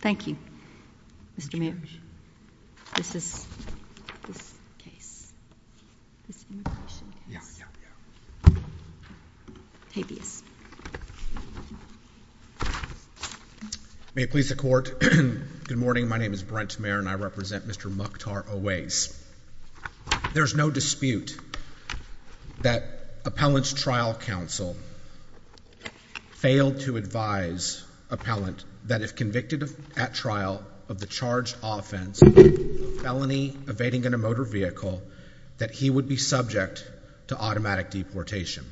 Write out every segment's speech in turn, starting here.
Thank you, Mr. Mayor. This is this case, this immigration case, habeas. May it please the court. Good morning. My name is Brent Mayer and I represent Mr. Mukhtar Owais. There's no dispute that Appellant's Trial Council failed to advise Appellant that if convicted at trial of the charged offense, felony evading in a motor vehicle, that he would be subject to automatic deportation.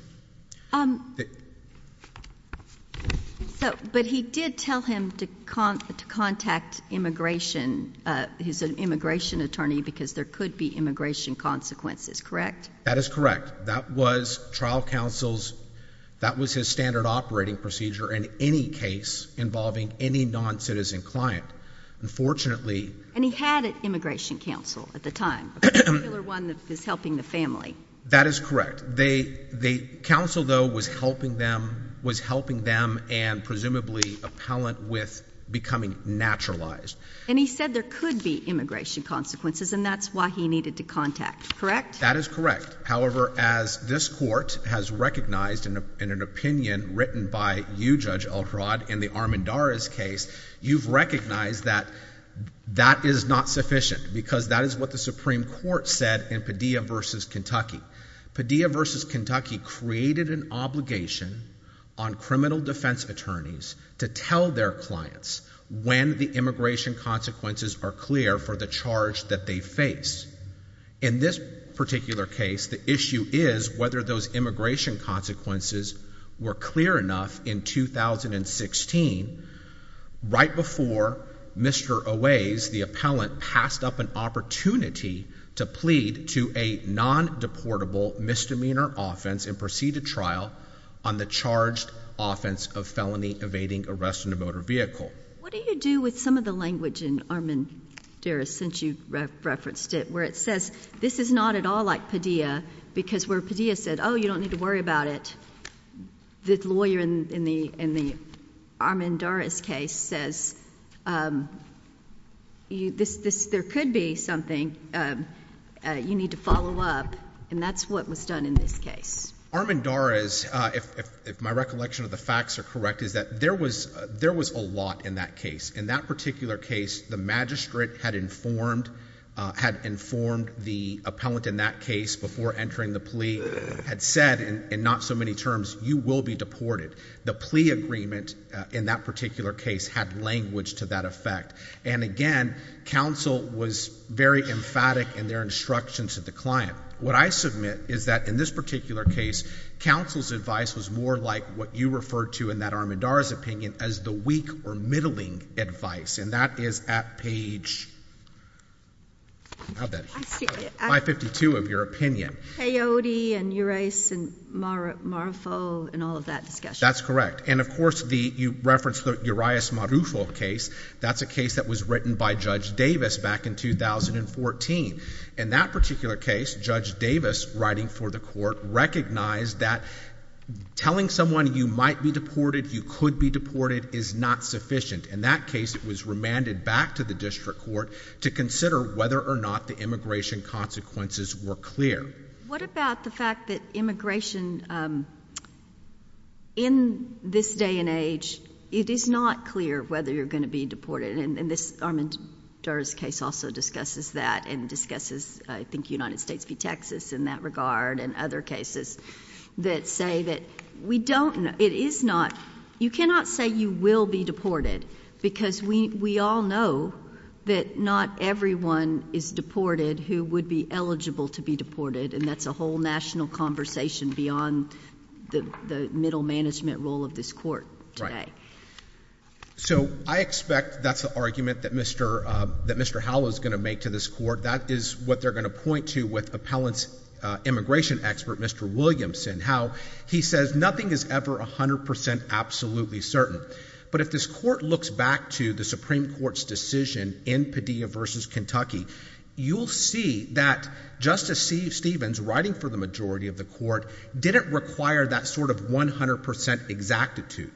But he did tell him to contact immigration, his immigration attorney, because there could be immigration consequences, correct? That is correct. That was Trial Council's, that was his standard operating procedure in any case involving any non-citizen client. Unfortunately... And he had an immigration council at the time, a particular one that was helping the family. That is correct. The council, though, was helping them and presumably Appellant with becoming naturalized. And he said there could be immigration consequences and that's why he needed to contact, correct? That is correct. However, as this court has recognized in an opinion written by you, Judge Elkrod, in the Armendariz case, you've recognized that that is not sufficient because that is what the Supreme Court said in Padilla v. Kentucky. Padilla v. Kentucky created an obligation on criminal defense attorneys to tell their clients when the immigration consequences are clear for the charge that they face. In this particular case, the issue is whether those immigration consequences were clear enough in 2016, right before Mr. Owais, the appellant, passed up an opportunity to plead to a non-deportable misdemeanor offense in preceded trial on the charged offense of felony evading arrest in a motor vehicle. What do you do with some of the language in Armendariz, since you referenced it, where it says this is not at all like Padilla, because where Padilla said, oh, you don't need to worry about it, the lawyer in the Armendariz case says there could be something, you need to follow up, and that's what was done in this case. Armendariz, if my recollection of the facts are correct, is that there was a lot in that case. In that particular case, the magistrate had informed the appellant in that case before entering the plea, had said in not so many terms, you will be deported. The plea agreement in that particular case had language to that effect. And again, counsel was very emphatic in their instructions to the client. What I submit is that in this particular case, counsel's advice was more like what you referred to in that Armendariz opinion as the weak or middling advice, and that is at page 552 of your opinion. Peyote and Urias and Marufo and all of that discussion. That's correct. And of course, you referenced the Urias-Marufo case. That's a case that was by Judge Davis back in 2014. In that particular case, Judge Davis, writing for the court, recognized that telling someone you might be deported, you could be deported is not sufficient. In that case, it was remanded back to the district court to consider whether or not the immigration consequences were clear. What about the fact that immigration in this day and age, it is not clear whether you're going to be deported? And this Armendariz case also discusses that and discusses, I think, United States v. Texas in that regard and other cases that say that we don't know. It is not. You cannot say you will be deported because we all know that not everyone is deported who would be eligible to be deported, and that's a whole national conversation beyond the middle management role of this court today. So I expect that's the argument that Mr. Howell is going to make to this court. That is what they're going to point to with appellant's immigration expert, Mr. Williamson, how he says nothing is ever 100% absolutely certain. But if this court looks back to the Supreme Court's decision in Padilla v. Kentucky, you'll see that Justice Steve Stevens, writing for the majority of the court, didn't require that sort of 100% exactitude.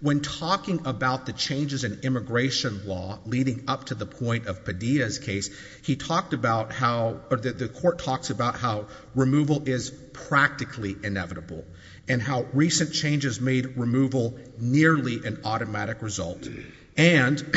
When talking about the changes in immigration law leading up to the point of Padilla's case, he talked about how, the court talks about how removal is practically inevitable and how recent changes made removal nearly an automatic result. And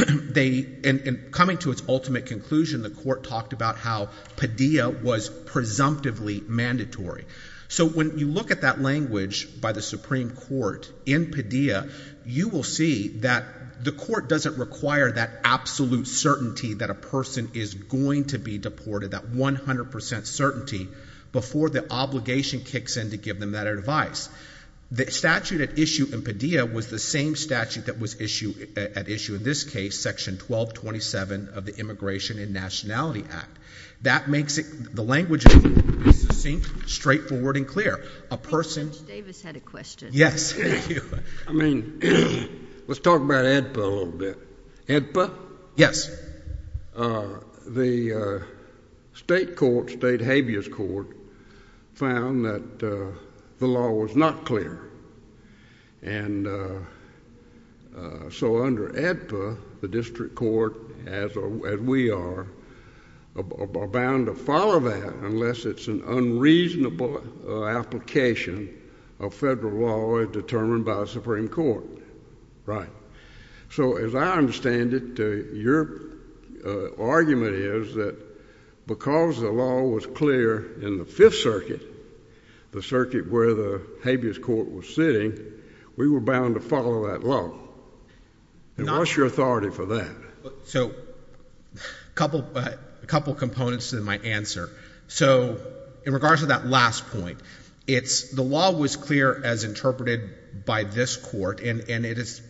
coming to its ultimate conclusion, the court talked about how Padilla was presumptively mandatory. So when you look at that language by the Supreme Court in Padilla, you will see that the court doesn't require that absolute certainty that a person is going to be deported, that 100% certainty, before the obligation kicks in to give them that advice. The statute at issue in Padilla was the same statute that was at issue in this case, Section 1227 of the Immigration and Nationality Act. That makes the language of the court succinct, straightforward, and clear. I think Judge Davis had a question. Yes. I mean, let's talk about AEDPA a little bit. AEDPA? Yes. The state court, state habeas court, found that the law was not clear. And so under AEDPA, the district court, as we are, are bound to follow that unless it's an unreasonable application of federal law as determined by the Supreme Court. Right. So as I understand it, your argument is that because the law was clear in the Fifth Circuit, the circuit where the habeas court was sitting, we were bound to follow that law. And what's your authority for that? So a couple components to my answer. So in regards to that last point, the law was clear as interpreted by this court, and there's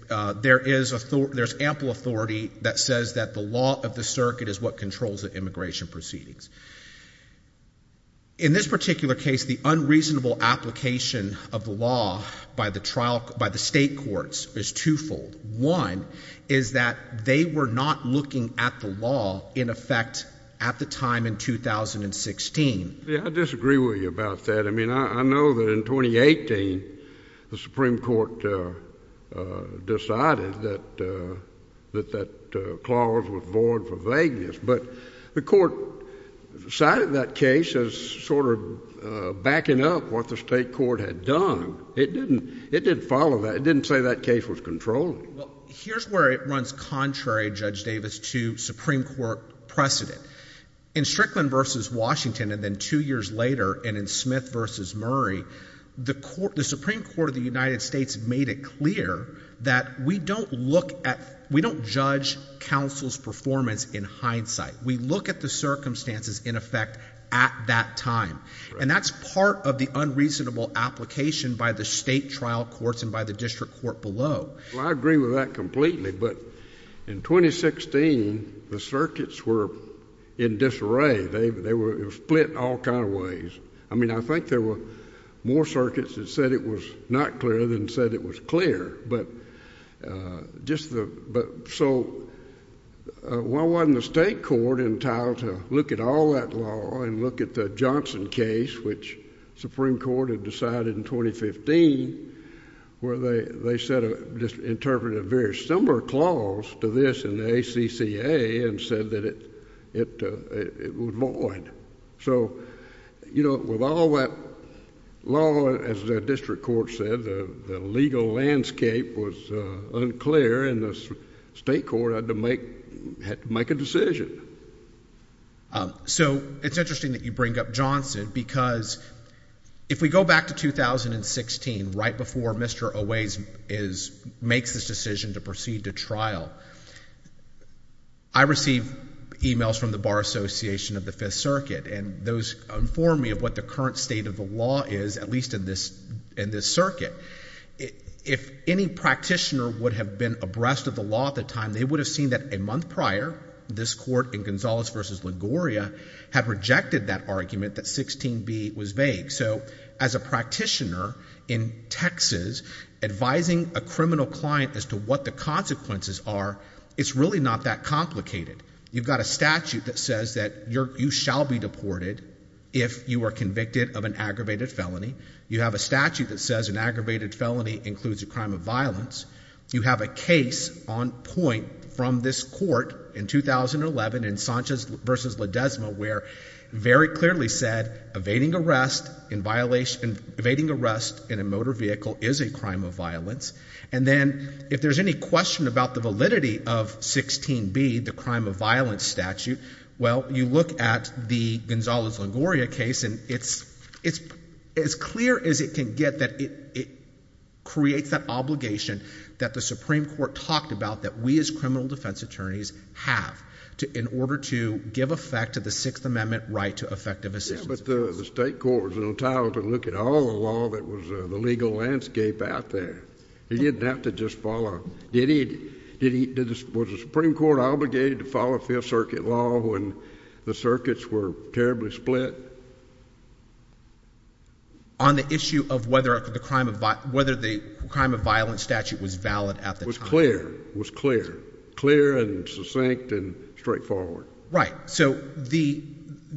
ample authority that says that the law of the circuit is what controls the immigration proceedings. In this particular case, the unreasonable application of the law by the state courts is twofold. One is that they were not looking at the law in effect at the time in 2016. Yeah, I disagree with you about that. I mean, I know that in 2018, the Supreme Court decided that that clause was void for vagueness. But the court cited that case as sort of backing up what the state court had done. It didn't follow that. It didn't say that case was controlled. Well, here's where it runs contrary, Judge Davis, to Supreme Court precedent. In Strickland v. Washington and then two years later, and in Smith v. Murray, the Supreme Court of the United States made it clear that we don't look at, we don't judge counsel's performance in hindsight. We look at the circumstances in effect at that time. And that's part of the unreasonable application by the state trial courts and by the district court below. Well, I agree with that completely. But in 2016, the circuits were in disarray. They were split all kind of ways. I mean, I think there were more circuits that said it was not clear than said it was clear. So why wasn't the state court entitled to look at all that law and look at the Johnson case, which Supreme Court had decided in 2015, where they interpreted a very similar clause to this in the ACCA and said that it was void? So, you know, with all that law, as the district court said, the legal landscape was unclear, and the state court had to make a decision. So it's interesting that you bring up Johnson, because if we go back to 2016, right before Mr. Owais makes this decision to proceed to trial, I received emails from the Bar Association of the Fifth Circuit, and those informed me of what the current state of the law is, at least in this circuit. If any practitioner would have been abreast of the law at the time, they would have seen that a month prior, this court in Gonzalez versus LaGoria had rejected that argument that 16b was vague. So as a practitioner in Texas, advising a criminal client as to what the consequences are, it's really not that complicated. You've got a statute that says that you shall be deported if you are convicted of an aggravated felony. You have a statute that says an aggravated felony includes a crime of violence. You have a on point from this court in 2011 in Sanchez versus Ledesma, where it very clearly said evading arrest in violation, evading arrest in a motor vehicle is a crime of violence. And then if there's any question about the validity of 16b, the crime of violence statute, well, you look at the Gonzalez-LaGoria case, and it's as clear as it can get that it creates that obligation that the Supreme Court talked about that we as criminal defense attorneys have in order to give effect to the Sixth Amendment right to effective assistance. Yeah, but the state court was entitled to look at all the law that was in the legal landscape out there. It didn't have to just follow. Was the Supreme Court obligated to follow Fifth Circuit law when the circuits were terribly split? On the issue of whether the crime of violence statute was valid at the time. Was clear, was clear, clear and succinct and straightforward. Right. So,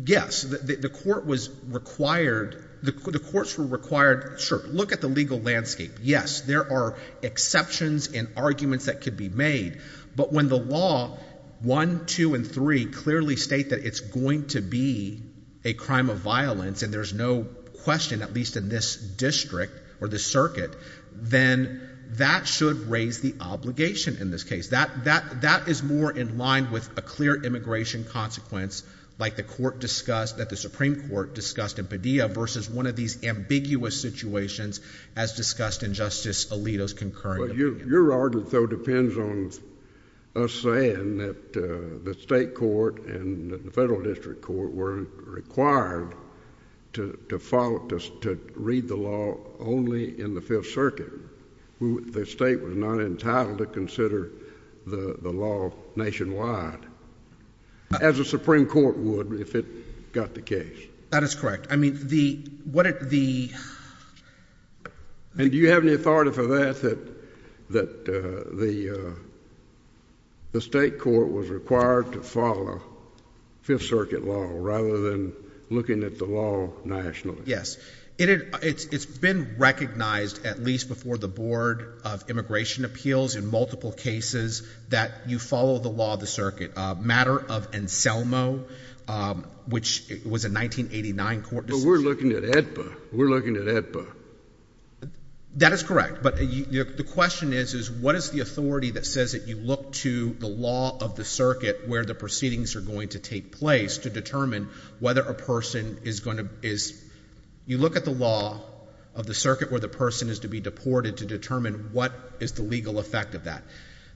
yes, the courts were required, sure, look at the legal landscape. Yes, there are exceptions and arguments that could be made, but when the law 1, 2, and 3 clearly state that it's going to be a crime of violence and there's no question, at least in this district or the circuit, then that should raise the obligation in this case. That is more in line with a clear immigration consequence like the court discussed, that the Supreme Court discussed in Padilla versus one of these ambiguous situations as discussed in Justice Alito's concurrent argument. Your argument, though, depends on us saying that the state court and the federal district court weren't required to read the law only in the Fifth Circuit. The state was not entitled to consider the law nationwide as the Supreme Court would if it got the case. That is correct. I mean, the... And do you have any authority for that, that the state court was required to follow Fifth Circuit law rather than looking at the law nationally? Yes. It's been recognized at least before the Board of Immigration Appeals in multiple cases that you follow the law of the circuit. A matter of Anselmo, which was a 1989 court decision. We're looking at AEDPA. We're looking at AEDPA. That is correct, but the question is, is what is the authority that says that you look to the law of the circuit where the proceedings are going to take place to determine whether a person is going to... You look at the law of the circuit where the person is to be deported to determine what is the legal effect of that.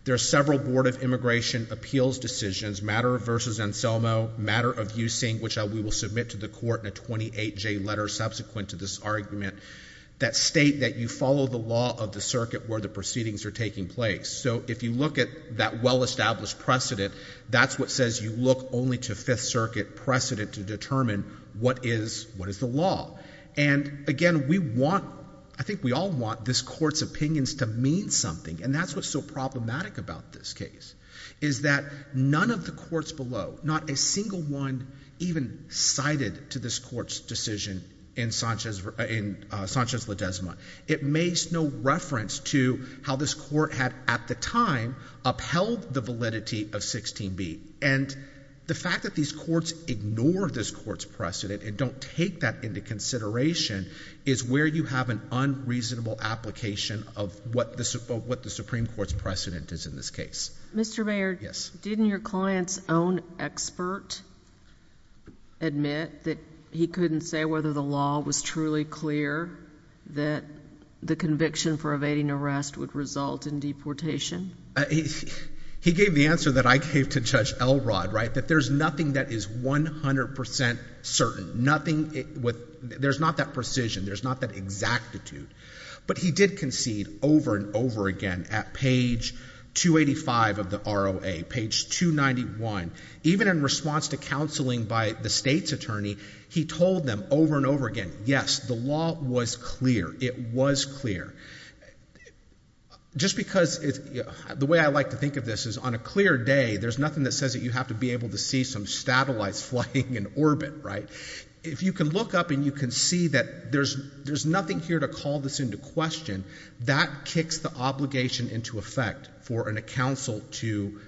There are several Board of Immigration Appeals decisions, matter of versus Anselmo, matter of using, which we will submit to the court in a 28-J letter subsequent to this argument, that state that you follow the law of the circuit where the proceedings are taking place. So if you look at that well-established precedent, that's what says you look only to Fifth Circuit precedent to determine what is the law. And again, we want... I think we all want this Court's opinions to mean something, and that's what's so problematic about this case, is that none of the courts below, not a single one even cited to this Court's decision in Sanchez-Ledezma. It makes no reference to how this Court had at the time upheld the validity of 16b. And the fact that these courts ignore this Court's precedent and don't take that into consideration is where you have an unreasonable application of what the Supreme Court's precedent is in this case. Mr. Mayor, didn't your client's own expert admit that he couldn't say whether the law was truly clear that the conviction for evading arrest would result in deportation? He gave the answer that I gave to Judge Elrod, right, that there's nothing that is 100 percent certain, nothing with... there's not that precision, there's not that exactitude, but he did concede over and over again at page 285 of the ROA, page 291. Even in response to counseling by the state's attorney, he told them over and over again, yes, the law was clear. It was clear. Just because it's... the way I like to think of this is on a clear day, there's nothing that says that you have to be able to see some satellites flying in orbit, right? If you can look up and you can see that there's nothing here to call this into question, that kicks the obligation into effect for a counsel to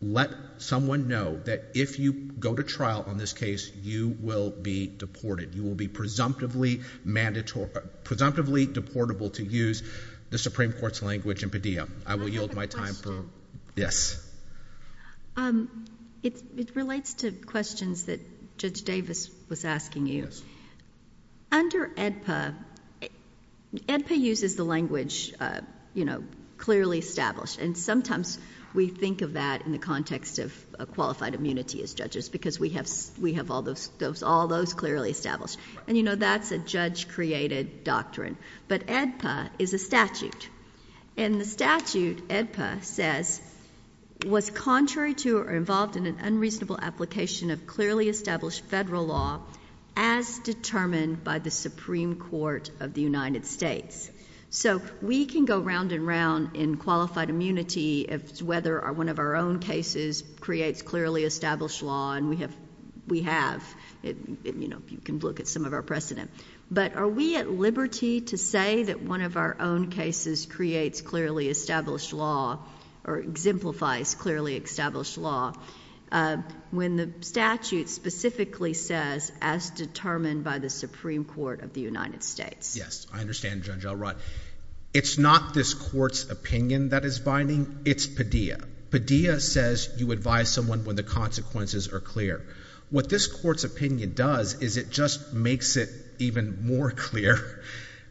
let someone know that if you go to trial on this case, you will be deported. You will be presumptively deportable to use the Supreme Court's language in Padilla. I will yield my time for... yes. It relates to questions that Judge Davis was asking you. Under AEDPA, AEDPA uses the language, you know, clearly established, and sometimes we think of that in the context of qualified immunity as judges because we have all those clearly established. And, you know, that's a created doctrine. But AEDPA is a statute. And the statute, AEDPA says, was contrary to or involved in an unreasonable application of clearly established federal law as determined by the Supreme Court of the United States. So we can go round and round in qualified immunity as whether one of our own cases creates clearly established law, and we have, you know, you can look at some of our precedent. But are we at liberty to say that one of our own cases creates clearly established law or exemplifies clearly established law when the statute specifically says as determined by the Supreme Court of the United States? Yes, I understand, Judge Elrod. It's not this court's opinion that is binding. It's Padilla. Padilla says you advise someone when the consequences are clear. What this court's opinion does is it just makes it even more clear,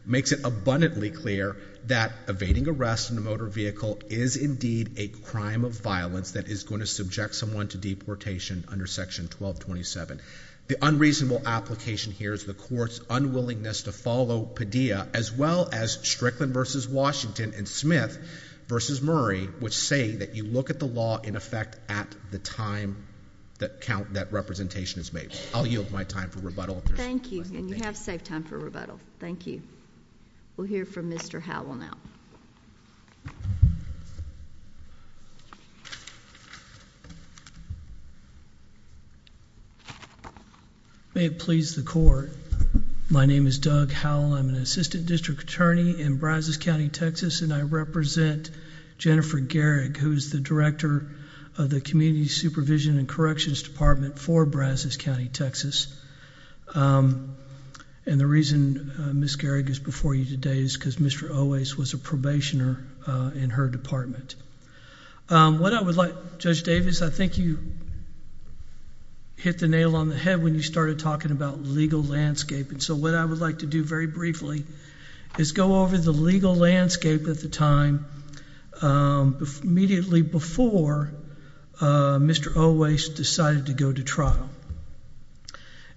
makes it abundantly clear that evading arrest in a motor vehicle is indeed a crime of violence that is going to subject someone to deportation under Section 1227. The unreasonable application here is the court's unwillingness to follow Padilla, as well as Strickland v. Washington and Smith v. Murray, which say that you look at the law in effect at the time that representation is made. I'll yield my time for rebuttal. Thank you, and you have safe time for rebuttal. Thank you. We'll hear from Mr. Howell now. May it please the Court. My name is Doug Howell. I'm Assistant District Attorney in Brazos County, Texas, and I represent Jennifer Garrig, who is the Director of the Community Supervision and Corrections Department for Brazos County, Texas. The reason Ms. Garrig is before you today is because Mr. Owais was a probationer in her department. What I would like, Judge Davis, I think you hit the nail on the head when you started talking about legal landscape, and so what I would like to do very briefly is go over the legal landscape at the time immediately before Mr. Owais decided to go to trial.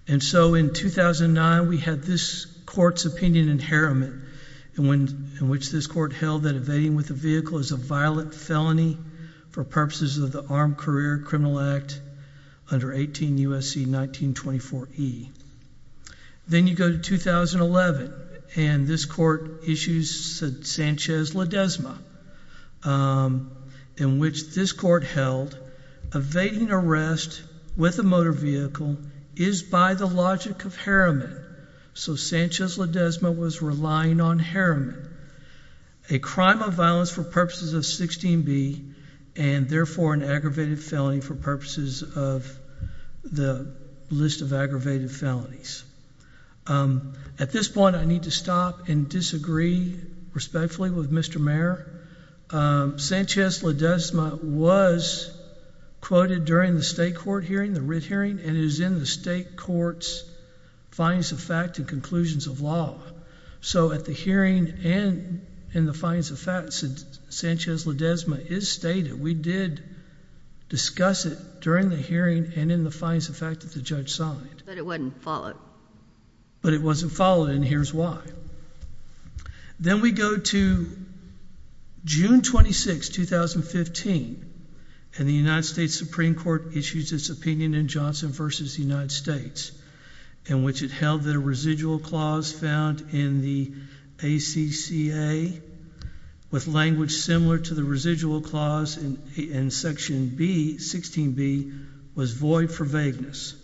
And so in 2009, we had this court's opinion inheritment, in which this court held that evading with a vehicle is a violent felony for purposes of the Armed Career Criminal Act under 18 U.S.C. 1924E. Then you go to 2011, and this court issues Sanchez-Ledezma, in which this court held evading arrest with a motor vehicle is by the logic of hermit, so Sanchez-Ledezma was relying on hermit, a crime of violence for purposes of 16B, and therefore an aggravated felony for purposes of the list of aggravated felonies. At this point, I need to stop and disagree respectfully with Mr. Mayor. Sanchez-Ledezma was quoted during the state court hearing, the writ hearing, and it is in the state court's findings of fact and conclusions of law. So at the hearing and in the findings of fact, Sanchez-Ledezma is stated. We did discuss it during the hearing and in the findings of fact that the judge signed. But it wasn't followed. But it wasn't followed, and here's why. Then we go to June 26, 2015, and the United States Supreme Court issues its opinion in Johnson v. United States, in which it held that a residual clause found in the language similar to the residual clause in section B, 16B, was void for vagueness.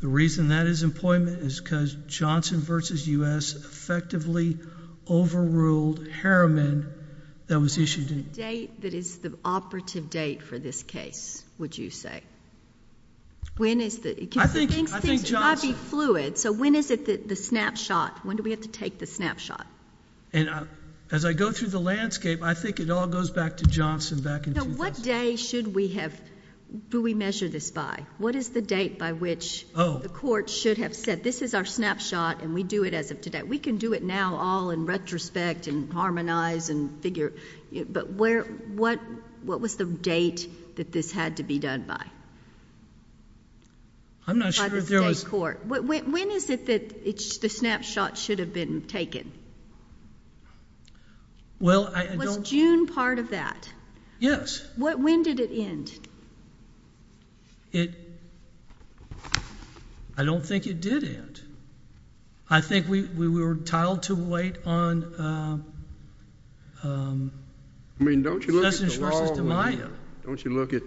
The reason that is employment is because Johnson v. U.S. effectively overruled hermit that was issued in... The date that is the operative date for this case, would you say? When is the... I think Johnson... Things might be fluid, so when is it the snapshot? When do we have to take the snapshot? As I go through the landscape, I think it all goes back to Johnson back in... What day should we have... Do we measure this by? What is the date by which the court should have said, this is our snapshot and we do it as of today? We can do it now all in retrospect and harmonize and figure... But what was the date that this had to be done by? By the state court. I'm not sure if there was... When is it that the snapshot should have been taken? Well, I don't... Was June part of that? Yes. When did it end? I don't think it did end. I think we were entitled to wait on... I mean, don't you look at the law... Sessions v. DiMaio. Don't you look at...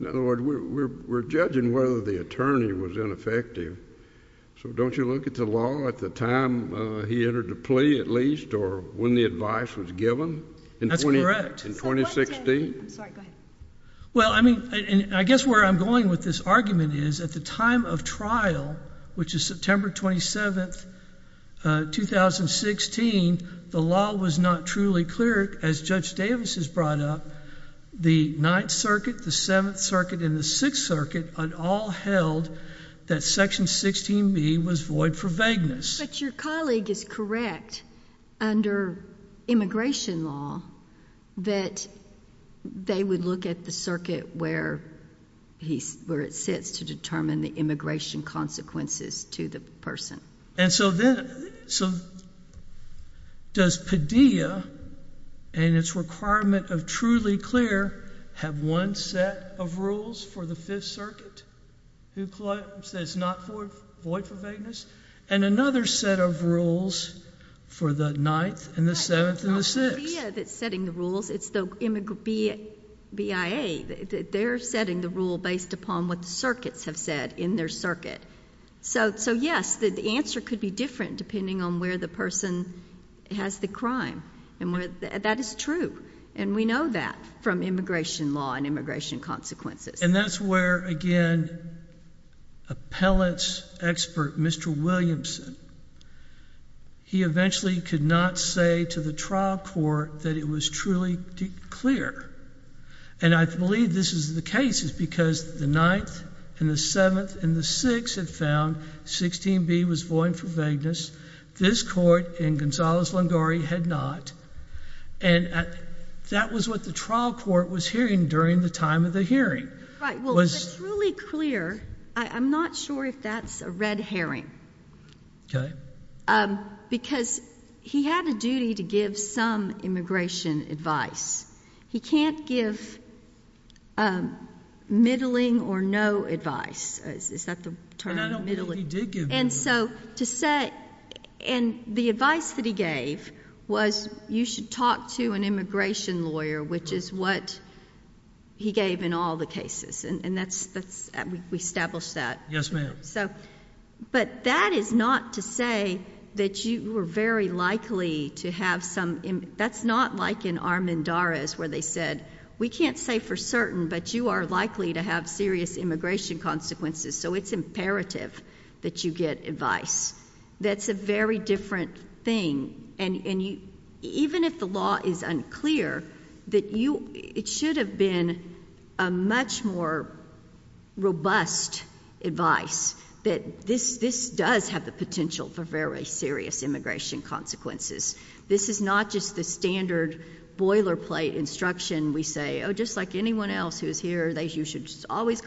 In other words, we're judging whether the attorney was ineffective, so don't you look at the law at the time he entered the plea, at least, or when the advice was given? That's correct. In 2016? I'm sorry, go ahead. Well, I mean, and I guess where I'm going with this argument is at the time of trial, which is September 27, 2016, the law was not truly clear. As Judge Davis has brought up, the Ninth Circuit, the Seventh Circuit, and the Sixth Circuit had all held that Section 16b was void for vagueness. But your colleague is correct under immigration law that they would look at the where it sits to determine the immigration consequences to the person. And so does Padilla, in its requirement of truly clear, have one set of rules for the Fifth Circuit who says it's not void for vagueness, and another set of rules for the Ninth and the Seventh and the Sixth? It's not Padilla that's rules. It's the BIA. They're setting the rule based upon what the circuits have said in their circuit. So yes, the answer could be different depending on where the person has the crime. And that is true, and we know that from immigration law and immigration consequences. And that's where, again, appellant's expert, Mr. Williamson, he eventually could not say to the trial court that it was truly clear. And I believe this is the case. It's because the Ninth and the Seventh and the Sixth had found 16b was void for vagueness. This court in Gonzales-Lungore had not. And that was what the trial court was hearing during the time of the hearing. Right. Well, it's truly clear. I'm not sure if that's a red herring. Okay. Because he had a duty to give some immigration advice. He can't give middling or no advice. Is that the term? And I don't think he did give no advice. And the advice that he gave was you should talk to an immigration lawyer, which is what he gave in all the cases. And we established that. Yes, ma'am. But that is not to say that you were very likely to have some, that's not like in Armendariz where they said, we can't say for certain, but you are likely to have serious immigration consequences. So it's imperative that you get advice. That's a very different thing. And even if the law is unclear, that you, it should have been a much more robust advice that this, this does have the potential for very serious immigration consequences. This is not just the standard boilerplate instruction. We say, Oh, just like anyone else who's here, they, you should just always,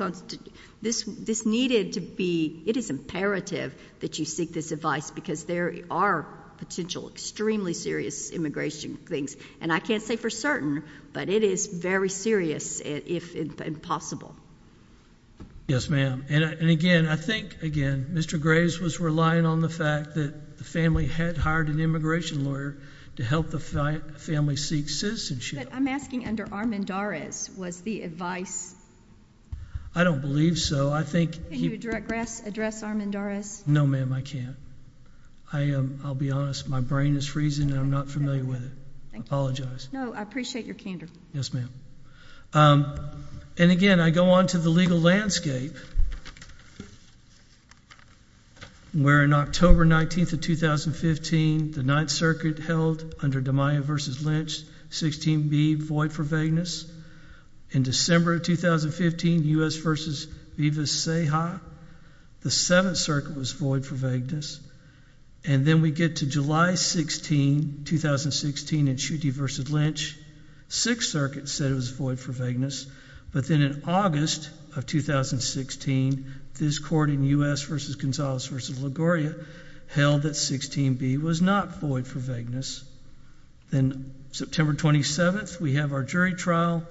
this, this needed to be, it is imperative that you seek this advice because there are potential, extremely serious immigration things. And I can't say for certain, but it is very serious if possible. Yes, ma'am. And again, I think again, Mr. Graves was relying on the fact that the family had hired an immigration lawyer to help the family seek citizenship. I'm asking under Armendariz was the advice. I don't believe so. I think. Can you address Armendariz? No, ma'am, I can't. I am. I'll be honest. My brain is freezing and I'm not familiar with it. Apologize. No, I appreciate your candor. Yes, ma'am. Um, and again, I go on to the legal landscape where in October 19th of 2015, the Ninth Circuit held under DiMaio versus Lynch 16b void for vagueness in December of 2015, U.S. versus Vivas-Seja. The Seventh Circuit was void for vagueness. And then we get to July 16, 2016 in Schutte versus Lynch. Sixth Circuit said it was void for vagueness. But then in August of 2016, this court in U.S. versus Gonzales versus LaGoria held that 16b was not void for vagueness. Then September 27th, we have our jury trial.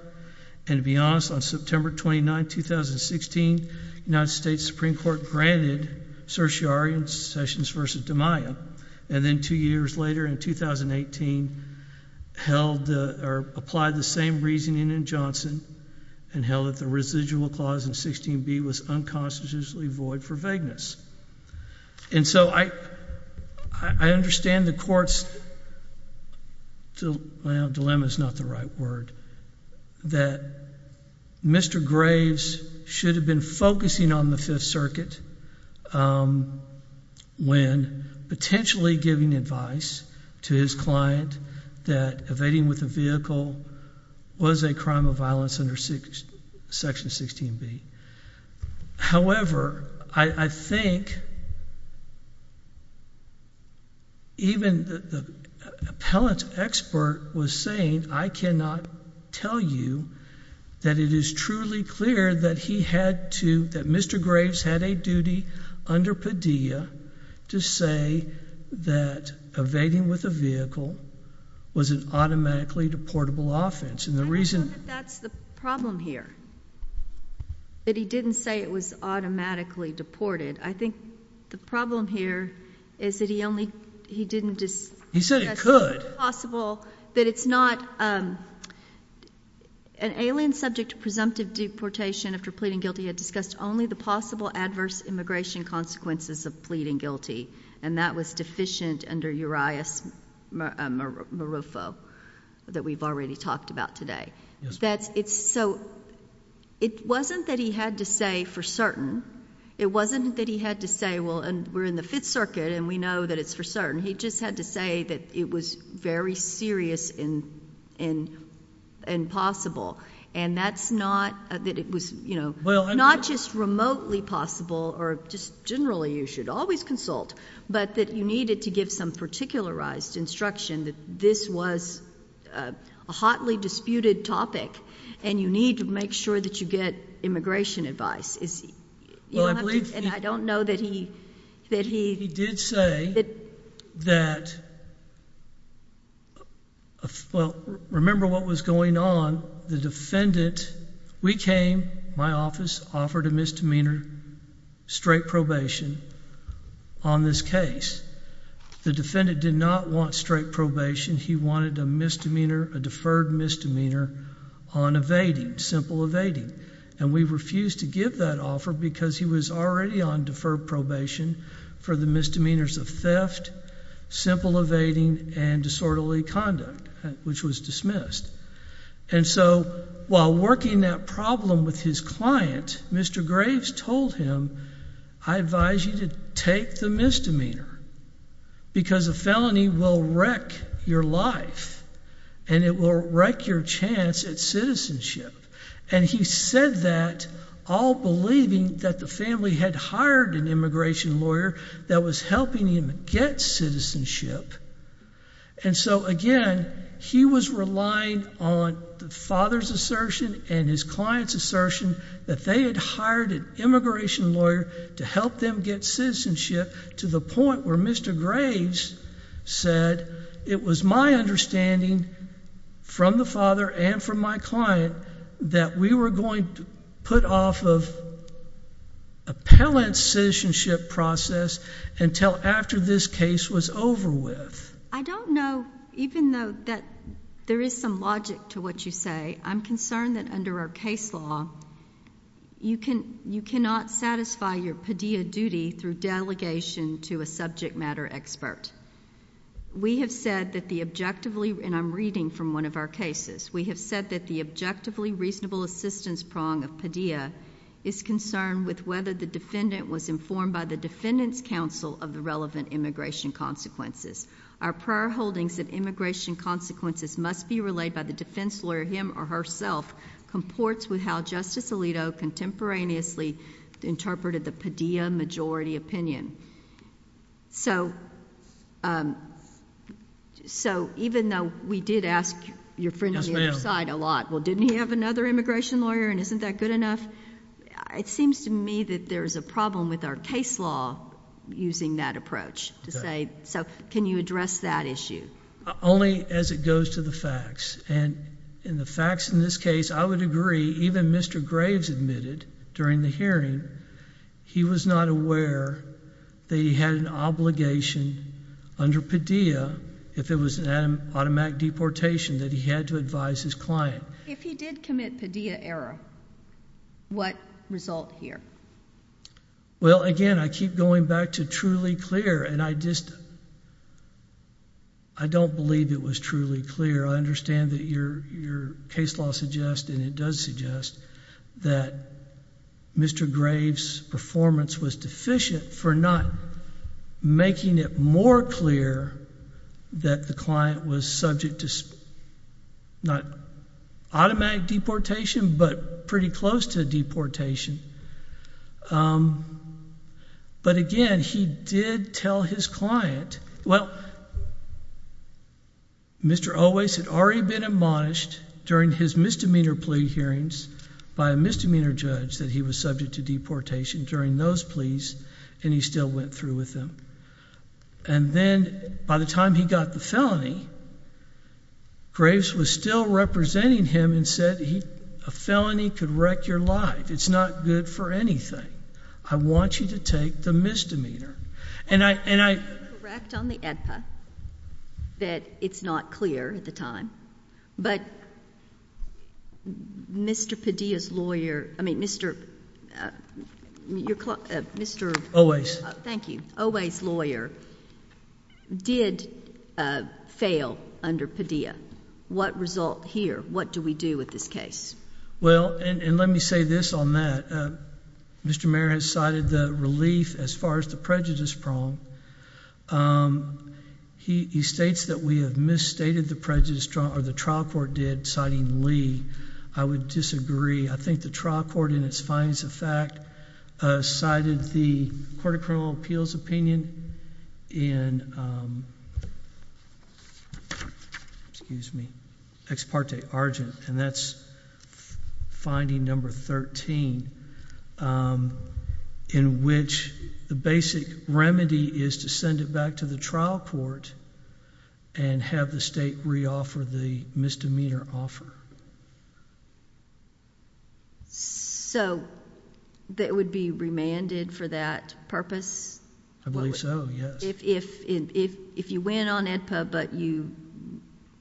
And to be honest, on September 29, 2016, United States Supreme Court granted certiorari in Sessions versus DiMaio. And then two years later in 2018, held or applied the same reasoning in Johnson and held that the residual clause in 16b was unconstitutionally void for vagueness. And so I understand the court's dilemma is not the right word, that Mr. Graves should have been focusing on the Fifth Circuit when potentially giving advice to his client that evading with a vehicle was a crime of violence under Section 16b. However, I think even the appellant expert was saying, I cannot tell you that it is truly clear that Mr. Graves had a duty under Padilla to say that evading with a vehicle was an automatically deportable offense. And the reason... I know that that's the problem here, that he didn't say it was automatically deported. I think the problem here is that he only, he didn't discuss... He said it could. It's possible that it's not an alien subject to presumptive deportation after pleading guilty. He had discussed only the possible adverse immigration consequences of pleading guilty. And that was deficient under Urias-Marufo that we've already talked about today. So it wasn't that he had to say for certain. It wasn't that he had to say, well, and we're in the Fifth Circuit and we know that it's for certain. He just had to say that it was very serious and and possible. And that's not that it was, you know, not just remotely possible or just generally you should always consult, but that you needed to give some particularized instruction that this was a hotly disputed topic and you need to make sure that you get immigration advice. Well, I believe... And I don't know that he... He did say that... Well, remember what was going on. The defendant, we came, my office offered a misdemeanor, straight probation on this case. The defendant did not want straight probation. He wanted a deferred misdemeanor on evading, simple evading. And we refused to give that offer because he was already on deferred probation for the misdemeanors of theft, simple evading, and disorderly conduct, which was dismissed. And so while working that problem with his client, Mr. Graves told him, I advise you to take the misdemeanor because a felony will wreck your life and it will wreck your chance at citizenship. And he said that all believing that the family had hired an immigration lawyer that was helping him get citizenship. And so again, he was relying on the father's assertion and his client's assertion that they had hired an immigration lawyer to help them get citizenship to the point where Mr. Graves said, it was my understanding from the father and from my client that we were going to put off of appellant citizenship process until after this case was over with. I don't know, even though that there is some logic to what you say, I'm concerned that under our case law, you cannot satisfy your PDEA duty through delegation to a subject matter expert. We have said that the objectively, and I'm reading from one of our cases, we have said that the objectively reasonable assistance prong of PDEA is concerned with whether the defendant was informed by the defendant's counsel of the relevant immigration consequences. Our prior holdings that immigration consequences must be relayed by the defense lawyer, him or herself, comports with how Justice Alito contemporaneously interpreted the PDEA majority opinion. So even though we did ask your friend on the other side a lot, well, didn't he have another immigration lawyer and isn't that good enough? It seems to me that there's a problem with our case law using that approach to say, so can you address that issue? Only as it goes to the facts. And in the facts in this case, I would agree even Mr. Graves admitted during the hearing he was not aware that he had an obligation under PDEA if it was an automatic deportation that he had to advise his client. If he did commit PDEA error, what result here? Well, again, I keep going back to truly clear and I just, I don't believe it was truly clear. I understand that your case law suggests and it does suggest that Mr. Graves' performance was deficient for not making it more clear that the client was subject to not automatic deportation but pretty close to deportation. But again, he did tell his client, well, Mr. Owais had already been admonished during his misdemeanor plea hearings by a misdemeanor judge that he was subject to deportation during those pleas and he still went through with them. And then by the time he got the felony, Graves was still representing him and said a felony could wreck your life. It's not good for anything. I want you to take the misdemeanor. And I. Correct on the AEDPA that it's not clear at the time, but Mr. Padilla's lawyer, I mean, Mr. Mr. Owais. Thank you. Owais' lawyer did fail under PDEA. What result here? What do we do with this case? Well, and let me say this on that. Mr. Mayor has cited the relief as far as the prejudice prong. Um, he states that we have misstated the prejudice or the trial court did citing Lee. I would disagree. I think the trial court in its findings of fact, cited the Court of Criminal Appeals opinion in, um, excuse me, ex parte argent. And that's finding number 13, um, in which the basic remedy is to send it back to the trial court and have the state reoffer the misdemeanor offer. So that would be remanded for that purpose? I believe so. Yes. If, if, if, if you went on AEDPA, but you,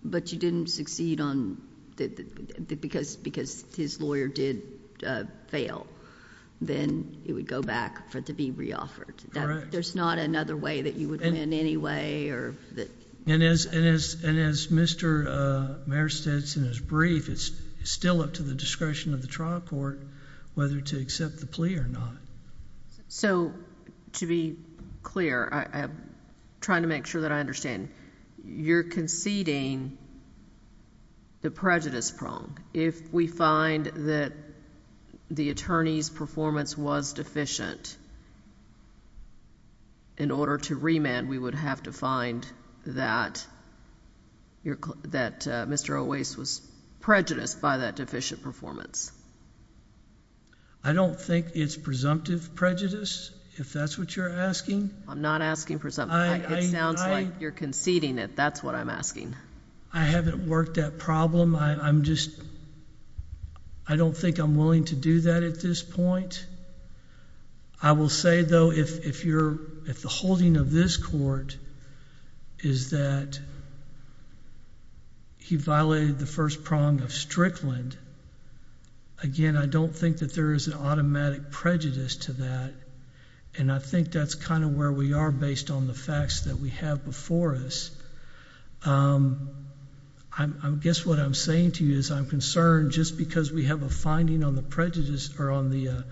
but you didn't succeed on that because, because his lawyer did fail, then it would go back for it to be reoffered. There's not another way that you would win anyway, or that. And as, and as, and as Mr. Mayor states in his brief, it's still up to the discretion of the trial court whether to accept the plea or not. So to be clear, I'm trying to make sure that I understand. You're conceding the prejudice prong. If we find that the attorney's performance was deficient in order to remand, we would have to find that that Mr. Owais was prejudiced by that deficient performance. I don't think it's presumptive prejudice, if that's what you're asking. I'm not asking presumptive. It sounds like you're conceding it. That's what I'm asking. I haven't worked that problem. I'm just, I don't think I'm willing to do that at this point. I will say though, if, if you're, if the holding of this court is that he violated the first prong of Strickland, again, I don't think that there is an automatic prejudice to that. And I think that's kind of where we are based on the facts that we have before us. I guess what I'm saying to you is I'm concerned just because we have a finding on the prejudice or on the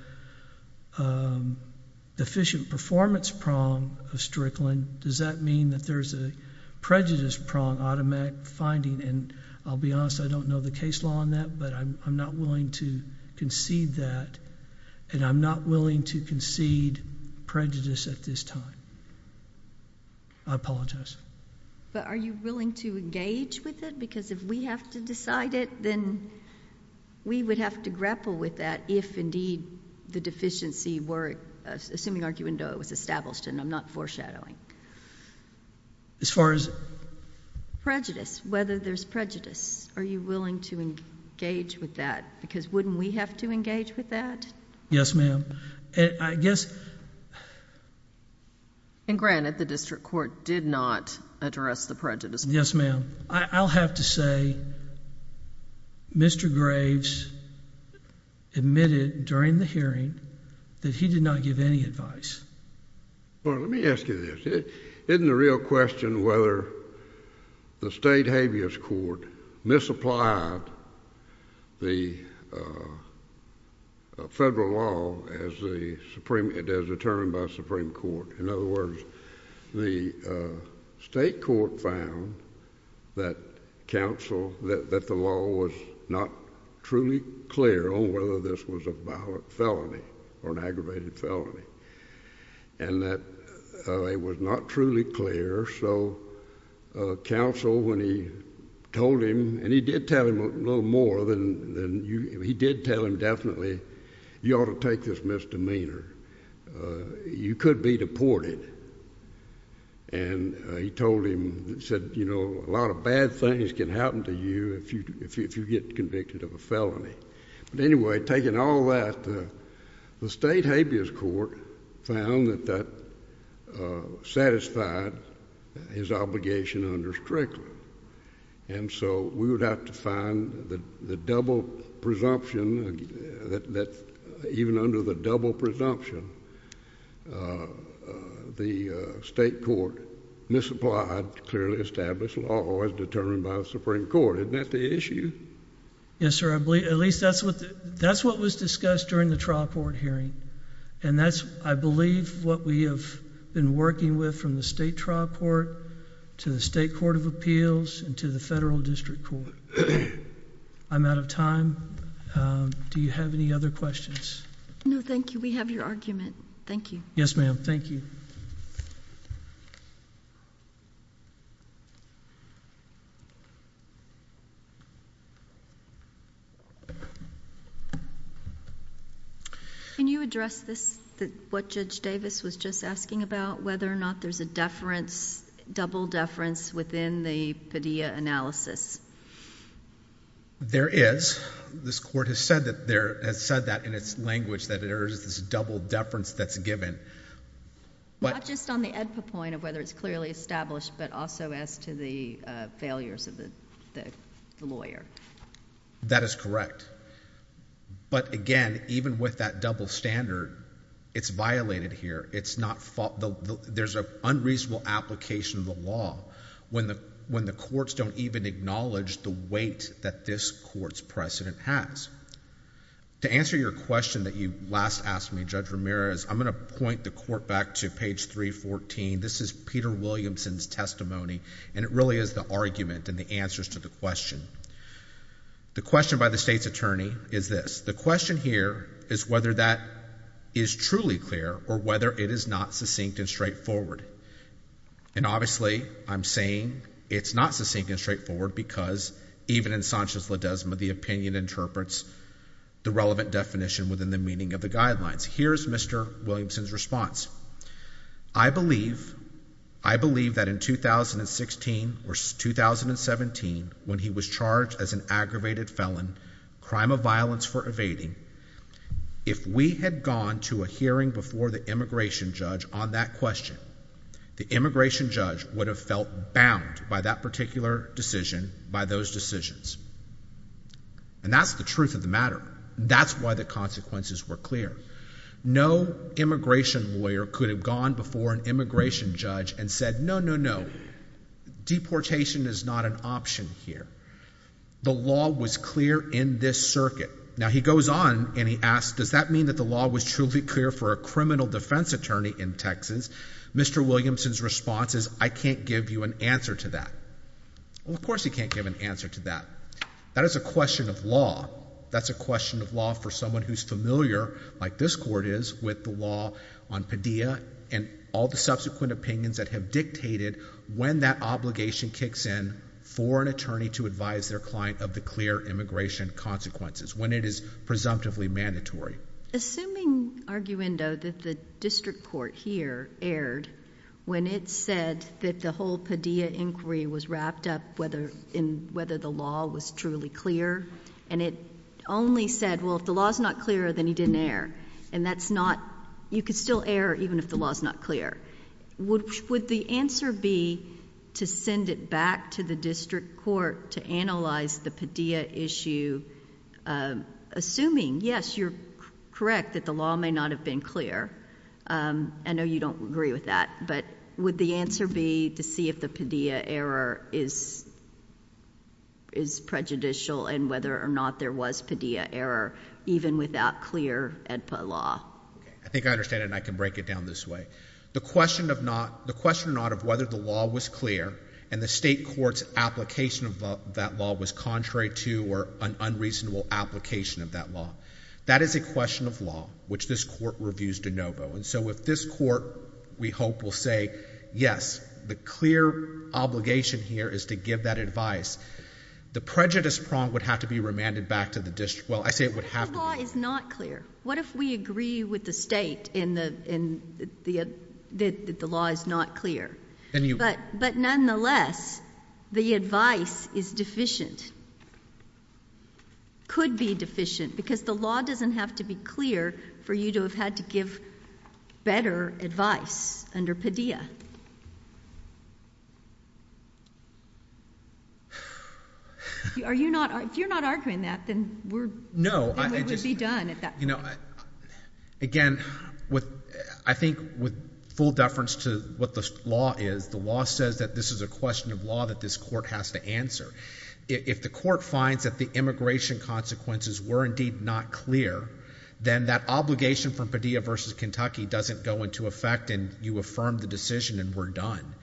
deficient performance prong of Strickland, does that mean that there's a prejudice prong automatic finding? And I'll be honest, I don't know the case law on that, but I'm not willing to concede that, and I'm not willing to concede prejudice at this time. I apologize. But are you willing to engage with it? Because if we have to decide it, then we would have to grapple with that if indeed the deficiency were, assuming Arguendoa was established, and I'm not foreshadowing. As far as? Prejudice. Whether there's prejudice. Are you willing to engage with that? Because wouldn't we have to engage with that? Yes, ma'am. And I guess. And granted, the district court did not address the prejudice. Yes, ma'am. I'll have to say Mr. Graves admitted during the hearing that he did not give any advice. Well, let me ask you this. Isn't the real question whether the state habeas court misapplied the federal law as the supreme, as determined by the supreme court? In other words, the state court found that counsel, that the law was not truly clear on whether this was a violent felony or an aggravated felony, and that it was not truly clear. So counsel, when he told him, and he did tell him a little more than you, he did tell him definitely, you ought to take this misdemeanor. You could be deported. And he told him, he said, you know, a lot of bad things can happen to you if you get convicted of a felony. But anyway, taking all that, the state habeas court found that that satisfied his obligation under Strickland. And so we would have to find the double presumption that even under the double presumption, the state court misapplied clearly established law as determined by the supreme court. Isn't that the issue? Yes, sir. I believe at least that's what that's what was discussed during the trial court hearing. And that's, I believe, what we have been working with from the state trial court to the state court of appeals and to the federal district court. I'm out of time. Do you have any other questions? No, thank you. We have your argument. Thank you. Yes, ma'am. Thank you. Can you address this, what Judge Davis was just asking about, whether or not there's a deference, double deference within the Padilla analysis? There is. This court has said that in its language, that there is this double deference that's given. Not just on the AEDPA point of whether it's clearly established, but also as to the failures of the lawyer. That is correct. But again, even with that double standard, it's violated here. It's not, there's an unreasonable application of the law when the courts don't even acknowledge the weight that this court's precedent has. To answer your question that you last asked me, Judge Ramirez, I'm going to point the court back to page 314. This is Peter Williamson's testimony, and it really is the argument and the answers to the question. The question by the state's attorney is this. The question here is whether that is truly clear or whether it is not succinct and straightforward. And obviously, I'm saying it's not succinct and straightforward because even in Sanchez-Ledezma, the opinion interprets the relevant definition within the meaning of the guidelines. Here's Mr. Williamson's response. I believe, I believe that in 2016 or 2017, when he was charged as an aggravated felon, crime of violence for evading, if we had gone to a hearing before the immigration judge on that question, the immigration judge would have felt bound by that particular decision, by those decisions. And that's the truth of the matter. That's why the consequences were clear. No immigration lawyer could have gone before an immigration judge and said, no, no, no, deportation is not an option here. The law was clear in this circuit. Now he goes on and he asks, does that mean that the law was truly clear for a criminal defense attorney in Texas? Mr. Williamson's response is, I can't give you an answer to that. Well, of course he can't give an answer to that. That is a question of law. That's a question of law for someone who's familiar, like this court is, with the law on Padilla and all the subsequent opinions that have dictated when that obligation kicks in for an attorney to advise their client of the clear immigration consequences, when it is presumptively mandatory. Assuming, arguendo, that the district court here erred when it said that the whole Padilla inquiry was wrapped up whether the law was truly clear, and it only said, well, if the law's not clear, then he didn't err. And that's not, you could still err even if the law's not clear. Would the answer be to send it back to the district court to analyze the Padilla issue, assuming, yes, you're correct, that the law may not have been clear? I know you don't agree with that, but would the answer be to see if the Padilla error is prejudicial and whether or not there was Padilla error, even without clear AEDPA law? I think I understand it, and I can break it down this way. The question of not, the question or not of whether the law was clear and the state court's application of that law was contrary to or an unreasonable application of that law, that is a question of law, which this court reviews de novo. And so if this court, we hope, will say, yes, the clear obligation here is to give that advice, the prejudice prong would have to be remanded back to the district. Well, I say it would have to be. If the law is not clear, what if we agree with the state that the law is not clear? But nonetheless, the advice is deficient, could be deficient, because the law doesn't have to be clear for you to have had to give better advice under Padilla. Are you not, if you're not arguing that, then we're, no, it would be done at that point. You know, again, I think with full deference to what the law is, the law says that this is a question of law that this court has to answer. If the court finds that the immigration consequences were indeed not clear, then that obligation from Padilla v. Kentucky doesn't go into effect and you affirm the decision and we're done.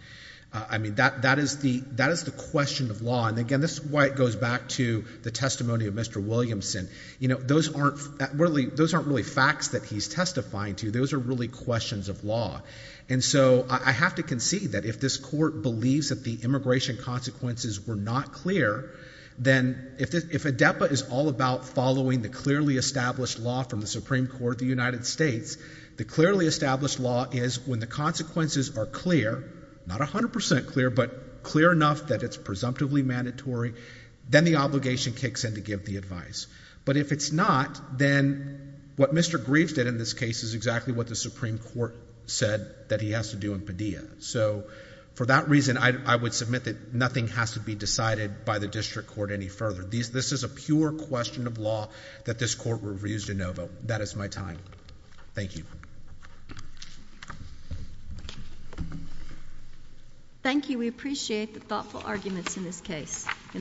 I mean, that is the question of law. And again, this is why it goes back to the testimony of Mr. Williamson. You know, those aren't really facts that he's testifying to. Those are really questions of law. And so I have to concede that if this court believes that the immigration consequences were not clear, then if ADEPA is all about following the clearly established law from the Supreme Court of the United States, the clearly established law is when the consequences are clear, not 100% clear, but clear enough that it's presumptively mandatory, then the obligation kicks in to give the advice. But if it's not, then what Mr. Greaves did in this case is exactly what the Supreme Court said that he has to do in Padilla. So for that reason, I would submit that nothing has to be decided by the district court any further. This is a pure question of law that this court reviews de novo. That is my time. Thank you. Thank you. We appreciate the thoughtful arguments in this case.